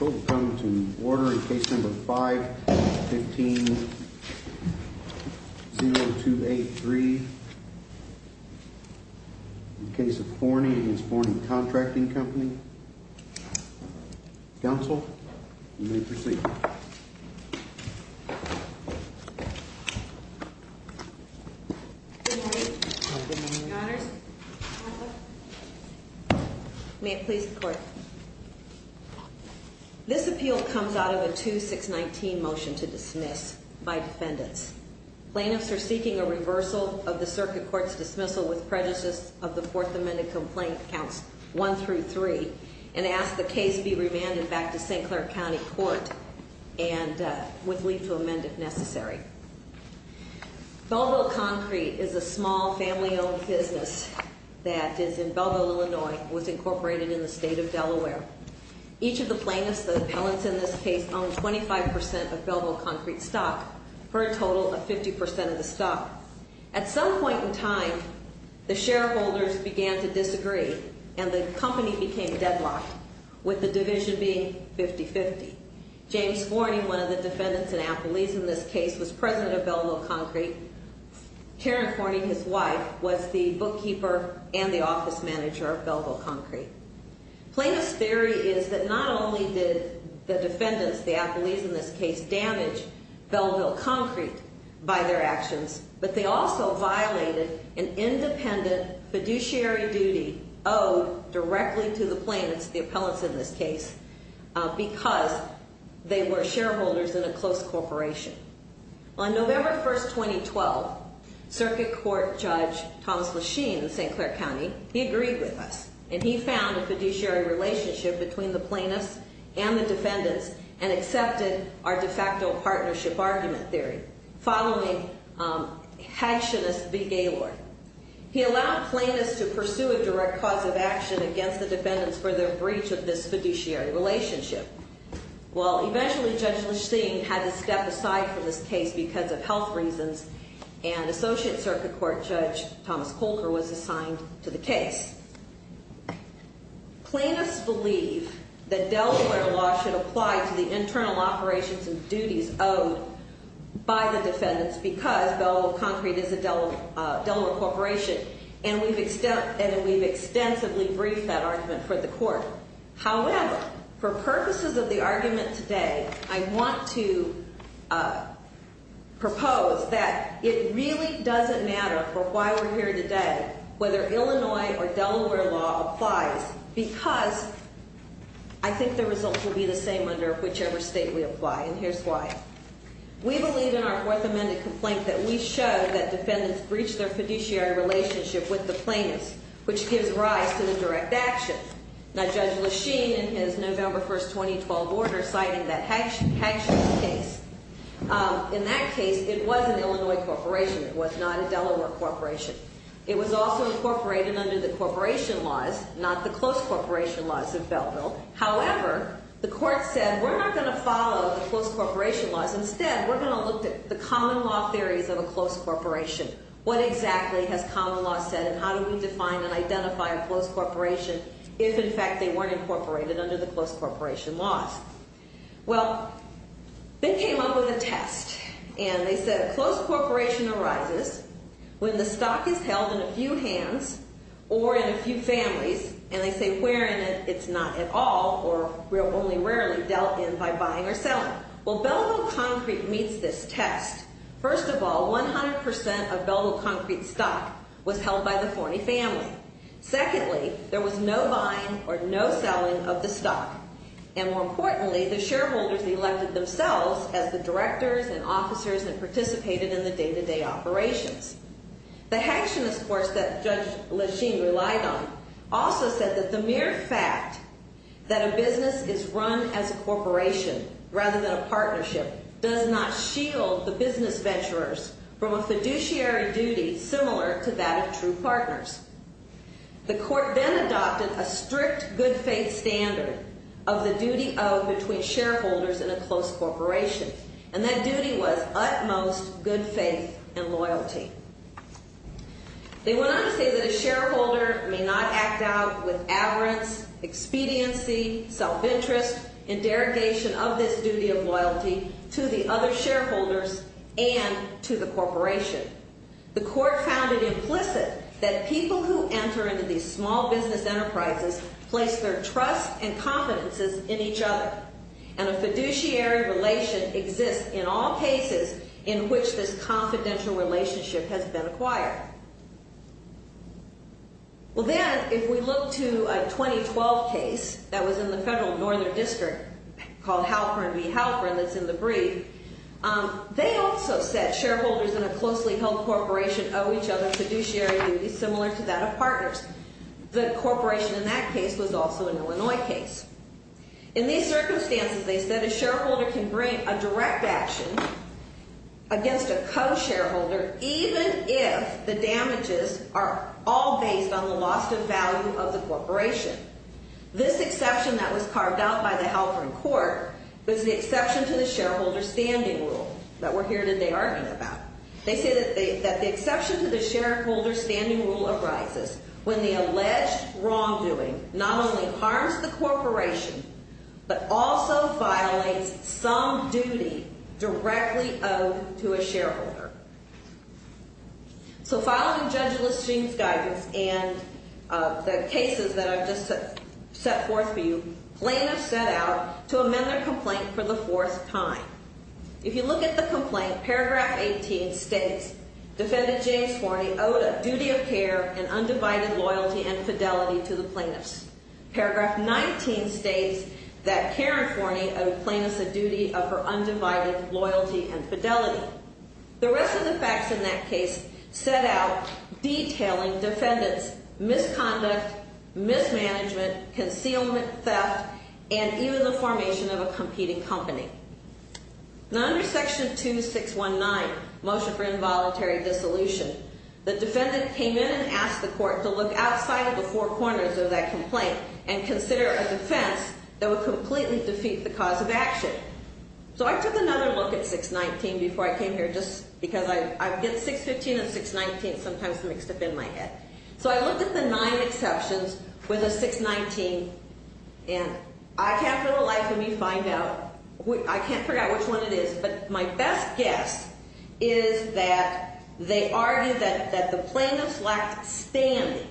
Order in case number 515-0283. In case of Fournie v. Fournie Contracting Company. Counsel, you may proceed. Good morning. Good morning. May it please the court. This appeal comes out of a 2-619 motion to dismiss by defendants. Plaintiffs are seeking a reversal of the Circuit Court's dismissal with prejudices of the Fourth Amendment Complaint Counts 1-3 and ask the case be remanded back to St. Clair County Court and would leave to amend if necessary. Belville Concrete is a small family-owned business that is in Belville, Illinois. It was incorporated in the state of Delaware. Each of the plaintiffs, the appellants in this case, owned 25% of Belville Concrete's stock, for a total of 50% of the stock. At some point in time, the shareholders began to disagree and the company became deadlocked, with the division being 50-50. James Fournie, one of the defendants and appellees in this case, was president of Belville Concrete. Tarrant Fournie, his wife, was the bookkeeper and the office manager of Belville Concrete. Plaintiffs' theory is that not only did the defendants, the appellees in this case, damage Belville Concrete by their actions, but they also violated an independent fiduciary duty owed directly to the plaintiffs, the appellants in this case, because they were shareholders in a close corporation. On November 1st, 2012, Circuit Court Judge Thomas Lesheen in St. Clair County, he agreed with us, and he found a fiduciary relationship between the plaintiffs and the defendants, and accepted our de facto partnership argument theory, following Hatchonist v. Gaylord. He allowed plaintiffs to pursue a direct cause of action against the defendants for their breach of this fiduciary relationship. Well, eventually, Judge Lesheen had to step aside from this case because of health reasons, and Associate Circuit Court Judge Thomas Colker was assigned to the case. Plaintiffs believe that Delaware law should apply to the internal operations and duties owed by the defendants, because Belville Concrete is a Delaware corporation, and we've extensively briefed that argument for the court. However, for purposes of the argument today, I want to propose that it really doesn't matter for why we're here today whether Illinois or Delaware law applies, because I think the results will be the same under whichever state we apply, and here's why. We believe in our Fourth Amendment complaint that we showed that defendants breached their fiduciary relationship with the plaintiffs, which gives rise to the direct action. Now, Judge Lesheen, in his November 1, 2012, order citing that Hatchonist case, in that case, it was an Illinois corporation. It was not a Delaware corporation. It was also incorporated under the corporation laws, not the close corporation laws of Belville. However, the court said, we're not going to follow the close corporation laws. Instead, we're going to look at the common law theories of a close corporation. What exactly has common law said, and how do we define and identify a close corporation if, in fact, they weren't incorporated under the close corporation laws? Well, they came up with a test, and they said a close corporation arises when the stock is held in a few hands or in a few families, and they say where in it it's not at all or only rarely dealt in by buying or selling. Well, Belville Concrete meets this test. First of all, 100% of Belville Concrete stock was held by the Forney family. Secondly, there was no buying or no selling of the stock, and more importantly, the shareholders elected themselves as the directors and officers that participated in the day-to-day operations. The Hatchonist course that Judge Lesheen relied on also said that the mere fact that a business is run as a corporation rather than a partnership does not shield the business venturers from a fiduciary duty similar to that of true partners. The court then adopted a strict good faith standard of the duty owed between shareholders in a close corporation, and that duty was utmost good faith and loyalty. They went on to say that a shareholder may not act out with avarice, expediency, self-interest, and derogation of this duty of loyalty to the other shareholders and to the corporation. The court found it implicit that people who enter into these small business enterprises place their trust and confidences in each other, and a fiduciary relation exists in all cases in which this confidential relationship has been acquired. Well, then, if we look to a 2012 case that was in the Federal Northern District called Halpern v. Halpern that's in the brief, they also said shareholders in a closely held corporation owe each other fiduciary duties similar to that of partners. The corporation in that case was also an Illinois case. In these circumstances, they said a shareholder can bring a direct action against a co-shareholder even if the damages are all based on the loss of value of the corporation. This exception that was carved out by the Halpern court was the exception to the shareholder standing rule that we're here today arguing about. They said that the exception to the shareholder standing rule arises when the alleged wrongdoing not only harms the corporation, but also violates some duty directly owed to a shareholder. So, following Judge Lisching's guidance and the cases that I've just set forth for you, plaintiffs set out to amend their complaint for the fourth time. If you look at the complaint, paragraph 18 states defendant James Forney owed a duty of care and undivided loyalty and fidelity to the plaintiffs. Paragraph 19 states that Karen Forney owed plaintiffs a duty of her undivided loyalty and fidelity. The rest of the facts in that case set out detailing defendants' misconduct, mismanagement, concealment, theft, and even the formation of a competing company. Now, under section 2619, motion for involuntary dissolution, the defendant came in and asked the court to look outside of the four corners of that complaint and consider a defense that would completely defeat the cause of action. So, I took another look at 619 before I came here just because I get 615 and 619 sometimes mixed up in my head. So, I looked at the nine exceptions with a 619 and I can't for the life of me find out. I can't figure out which one it is. But my best guess is that they argue that the plaintiffs lacked standing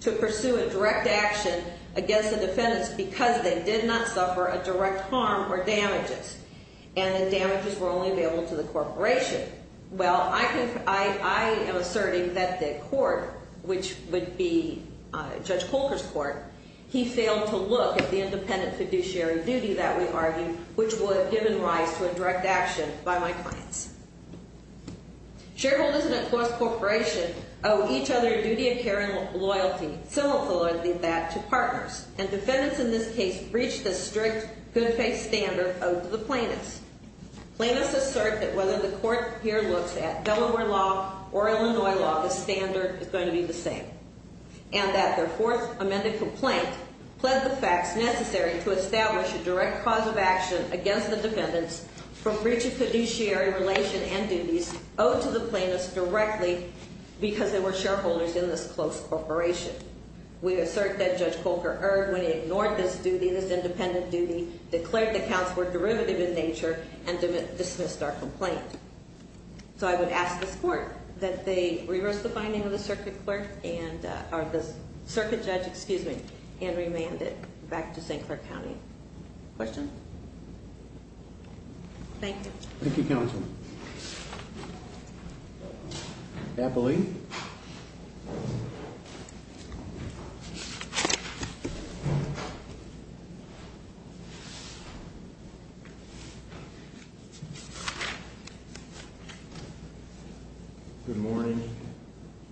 to pursue a direct action against the defendants because they did not suffer a direct harm or damages and the damages were only available to the corporation. Well, I am asserting that the court, which would be Judge Colker's court, he failed to look at the independent fiduciary duty that we argue which would have given rise to a direct action by my clients. Shareholders in a closed corporation owe each other a duty of care and loyalty, similar to that to partners. And defendants in this case breached the strict good faith standard owed to the plaintiffs. Plaintiffs assert that whether the court here looks at Delaware law or Illinois law, the standard is going to be the same. And that their fourth amended complaint pled the facts necessary to establish a direct cause of action against the defendants from breach of fiduciary relation and duties owed to the plaintiffs directly because they were shareholders in this closed corporation. We assert that Judge Colker erred when he ignored this duty, this independent duty, declared the counts were derivative in nature, and dismissed our complaint. So I would ask this court that they reverse the finding of the circuit judge and remand it back to St. Clair County. Questions? Thank you. Thank you, Counsel. Thank you, Counsel. Eppley. Good morning.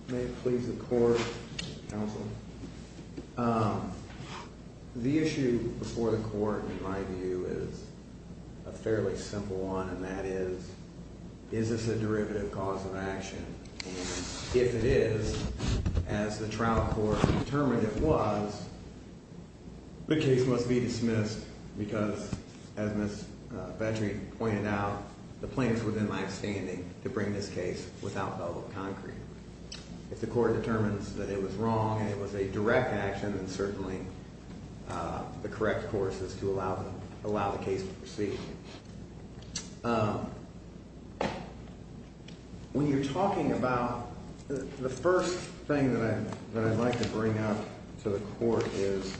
May it please the court. Counsel. The issue before the court, in my view, is a fairly simple one, and that is, is this a derivative cause of action? And if it is, as the trial court determined it was, the case must be dismissed because, as Ms. Patrick pointed out, the plaintiffs were then left standing to bring this case without double concrete. If the court determines that it was wrong and it was a direct action, then certainly the correct course is to allow the case to proceed. When you're talking about the first thing that I'd like to bring up to the court is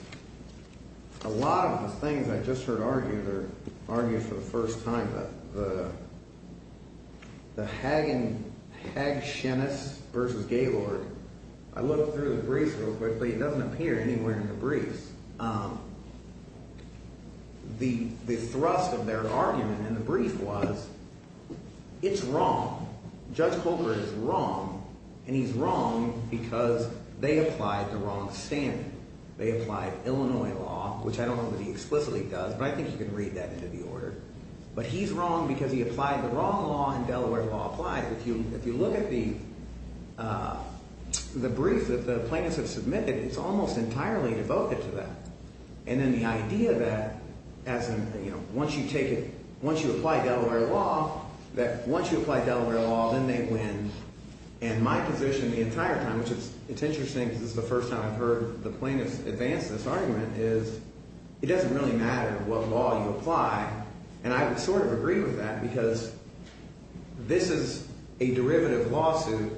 a lot of the things I just heard argued are argued for the first time. The Hagen – Hagen-Schenes v. Gaylord, I looked through the briefs real quickly. It doesn't appear anywhere in the briefs. The thrust of their argument in the brief was it's wrong. Judge Colbert is wrong, and he's wrong because they applied the wrong standard. They applied Illinois law, which I don't know that he explicitly does, but I think you can read that into the order. But he's wrong because he applied the wrong law and Delaware law applied it. If you look at the brief that the plaintiffs have submitted, it's almost entirely devoted to that. And then the idea that as in, you know, once you take it – once you apply Delaware law, that once you apply Delaware law, then they win. And my position the entire time, which it's interesting because this is the first time I've heard the plaintiffs advance this argument, is it doesn't really matter what law you apply, and I would sort of agree with that because this is a derivative lawsuit.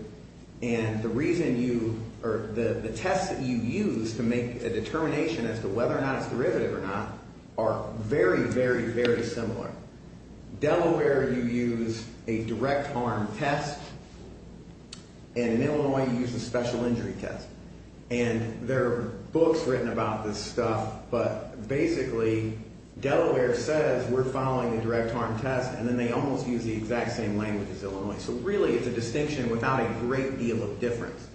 And the reason you – or the tests that you use to make a determination as to whether or not it's derivative or not are very, very, very similar. Delaware, you use a direct harm test, and in Illinois you use a special injury test. And there are books written about this stuff, but basically Delaware says we're following a direct harm test, and then they almost use the exact same language as Illinois. So really it's a distinction without a great deal of difference.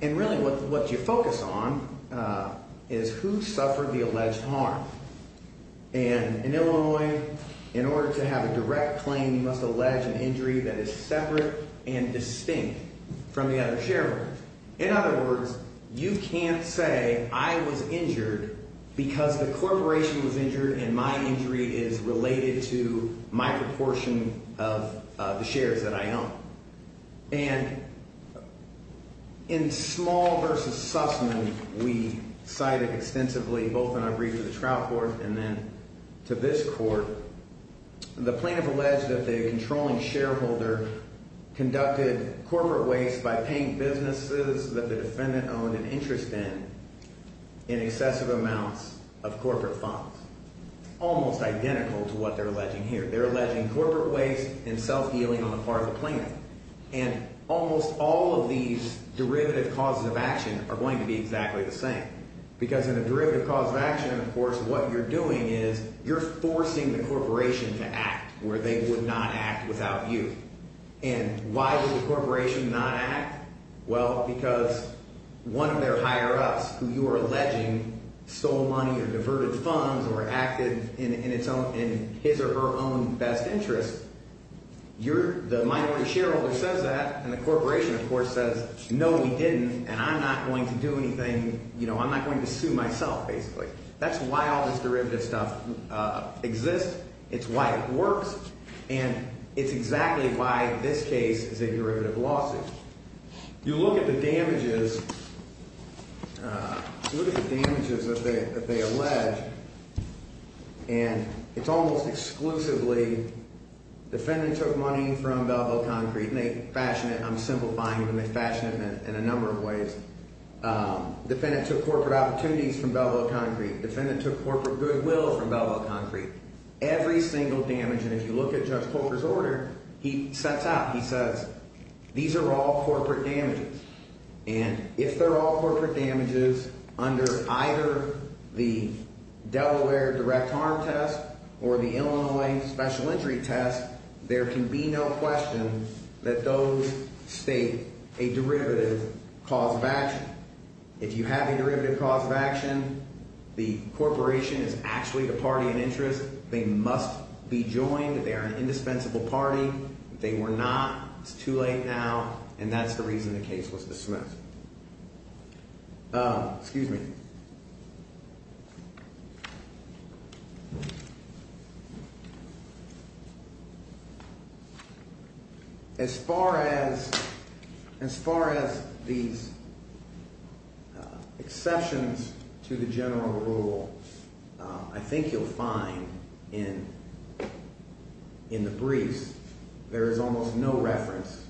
And really what you focus on is who suffered the alleged harm. And in Illinois, in order to have a direct claim, you must allege an injury that is separate and distinct from the other shareholders. In other words, you can't say I was injured because the corporation was injured and my injury is related to my proportion of the shares that I own. And in Small v. Sussman, we cited extensively, both in our brief to the trial court and then to this court, the plaintiff alleged that the controlling shareholder conducted corporate waste by paying businesses that the defendant owned an interest in in excessive amounts of corporate funds, almost identical to what they're alleging here. They're alleging corporate waste and self-dealing on the part of the plaintiff. And almost all of these derivative causes of action are going to be exactly the same because in a derivative cause of action, of course, what you're doing is you're forcing the corporation to act where they would not act without you. And why would the corporation not act? Well, because one of their higher-ups, who you are alleging stole money or diverted funds or acted in his or her own best interest, the minority shareholder says that, and the corporation, of course, says, no, we didn't, and I'm not going to do anything. I'm not going to sue myself, basically. That's why all this derivative stuff exists. It's why it works. And it's exactly why this case is a derivative lawsuit. You look at the damages that they allege, and it's almost exclusively defendant took money from Belleville Concrete, and they fashion it. I'm simplifying it, and they fashion it in a number of ways. Defendant took corporate opportunities from Belleville Concrete. Defendant took corporate goodwill from Belleville Concrete. Every single damage, and if you look at Judge Coker's order, he sets out, he says, these are all corporate damages. And if they're all corporate damages under either the Delaware direct harm test or the Illinois special entry test, there can be no question that those state a derivative cause of action. If you have a derivative cause of action, the corporation is actually the party in interest. They must be joined. They are an indispensable party. If they were not, it's too late now, and that's the reason the case was dismissed. Excuse me. As far as as far as these exceptions to the general rule, I think you'll find in. In the briefs, there is almost no reference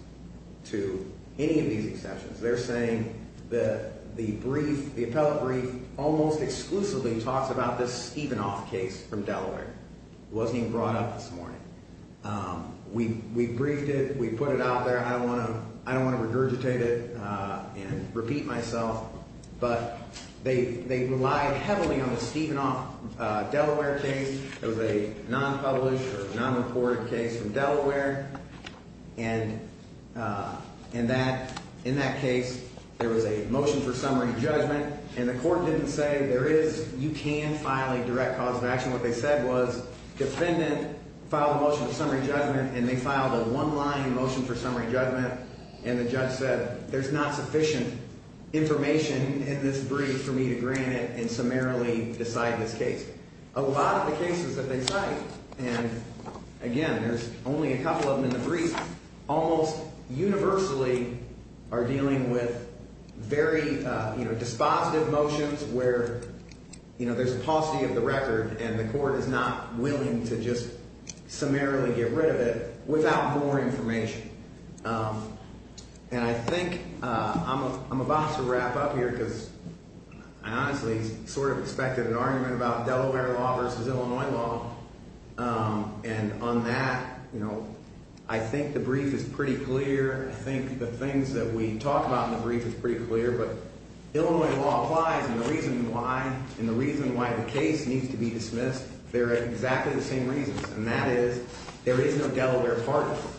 to any of these exceptions. They're saying that the brief, the appellate brief almost exclusively talks about this Stevenoff case from Delaware. It wasn't even brought up this morning. We briefed it. We put it out there. I don't want to regurgitate it and repeat myself, but they relied heavily on the Stevenoff Delaware case. It was a nonpublished or nonreported case from Delaware. And in that case, there was a motion for summary judgment, and the court didn't say there is you can file a direct cause of action. What they said was defendant filed a motion of summary judgment, and they filed a one line motion for summary judgment. And the judge said there's not sufficient information in this brief for me to grant it and summarily decide this case. A lot of the cases that they cite, and again, there's only a couple of them in the brief, almost universally are dealing with very dispositive motions where, you know, there's a paucity of the record. And the court is not willing to just summarily get rid of it without more information. And I think I'm about to wrap up here because I honestly sort of expected an argument about Delaware law versus Illinois law. And on that, you know, I think the brief is pretty clear. I think the things that we talk about in the brief is pretty clear. But Illinois law applies, and the reason why and the reason why the case needs to be dismissed, they're exactly the same reasons. And that is there is no Delaware part of it.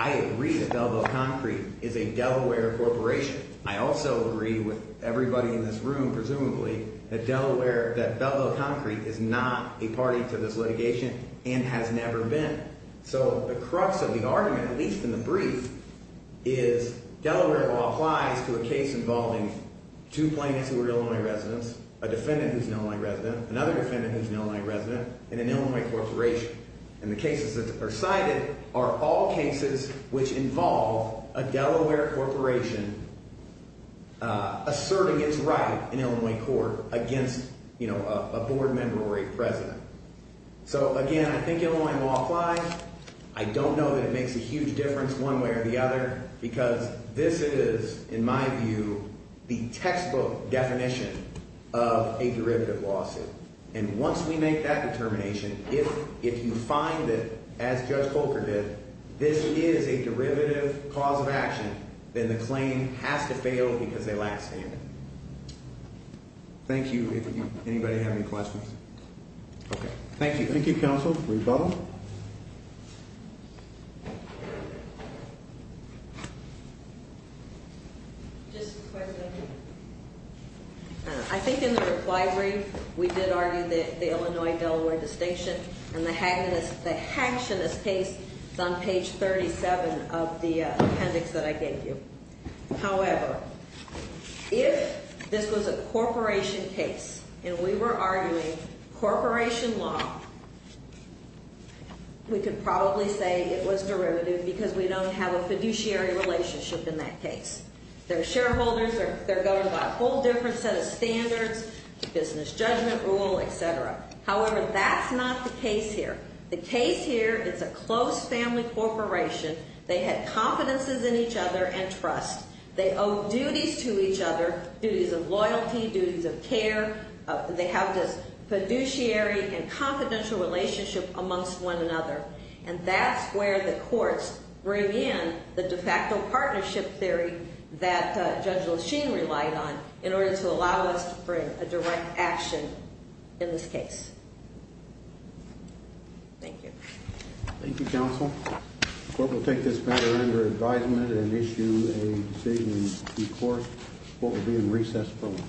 I agree that Belleville Concrete is a Delaware corporation. I also agree with everybody in this room, presumably, that Belleville Concrete is not a party to this litigation and has never been. So the crux of the argument, at least in the brief, is Delaware law applies to a case involving two plaintiffs who are Illinois residents, a defendant who's an Illinois resident, another defendant who's an Illinois resident, and an Illinois corporation. And the cases that are cited are all cases which involve a Delaware corporation asserting its right in Illinois court against, you know, a board member or a president. So, again, I think Illinois law applies. I don't know that it makes a huge difference one way or the other because this is, in my view, the textbook definition of a derivative lawsuit. And once we make that determination, if you find that, as Judge Coker did, this is a derivative cause of action, then the claim has to fail because they lack standing. Thank you. Anybody have any questions? Okay. Thank you. Thank you, counsel. Rebuttal? Just a quick one. I think in the reply brief we did argue that the Illinois-Delaware distinction and the hacktionist case is on page 37 of the appendix that I gave you. However, if this was a corporation case and we were arguing corporation law, we could probably say it was derivative because we don't have a fiduciary relationship in that case. They're shareholders. They're governed by a whole different set of standards, business judgment rule, et cetera. However, that's not the case here. The case here, it's a close family corporation. They had confidences in each other and trust. They owe duties to each other, duties of loyalty, duties of care. They have this fiduciary and confidential relationship amongst one another. And that's where the courts bring in the de facto partnership theory that Judge LaChine relied on in order to allow us to bring a direct action in this case. Thank you. Thank you, counsel. The court will take this matter under advisement and issue a statement before what will be a recess program.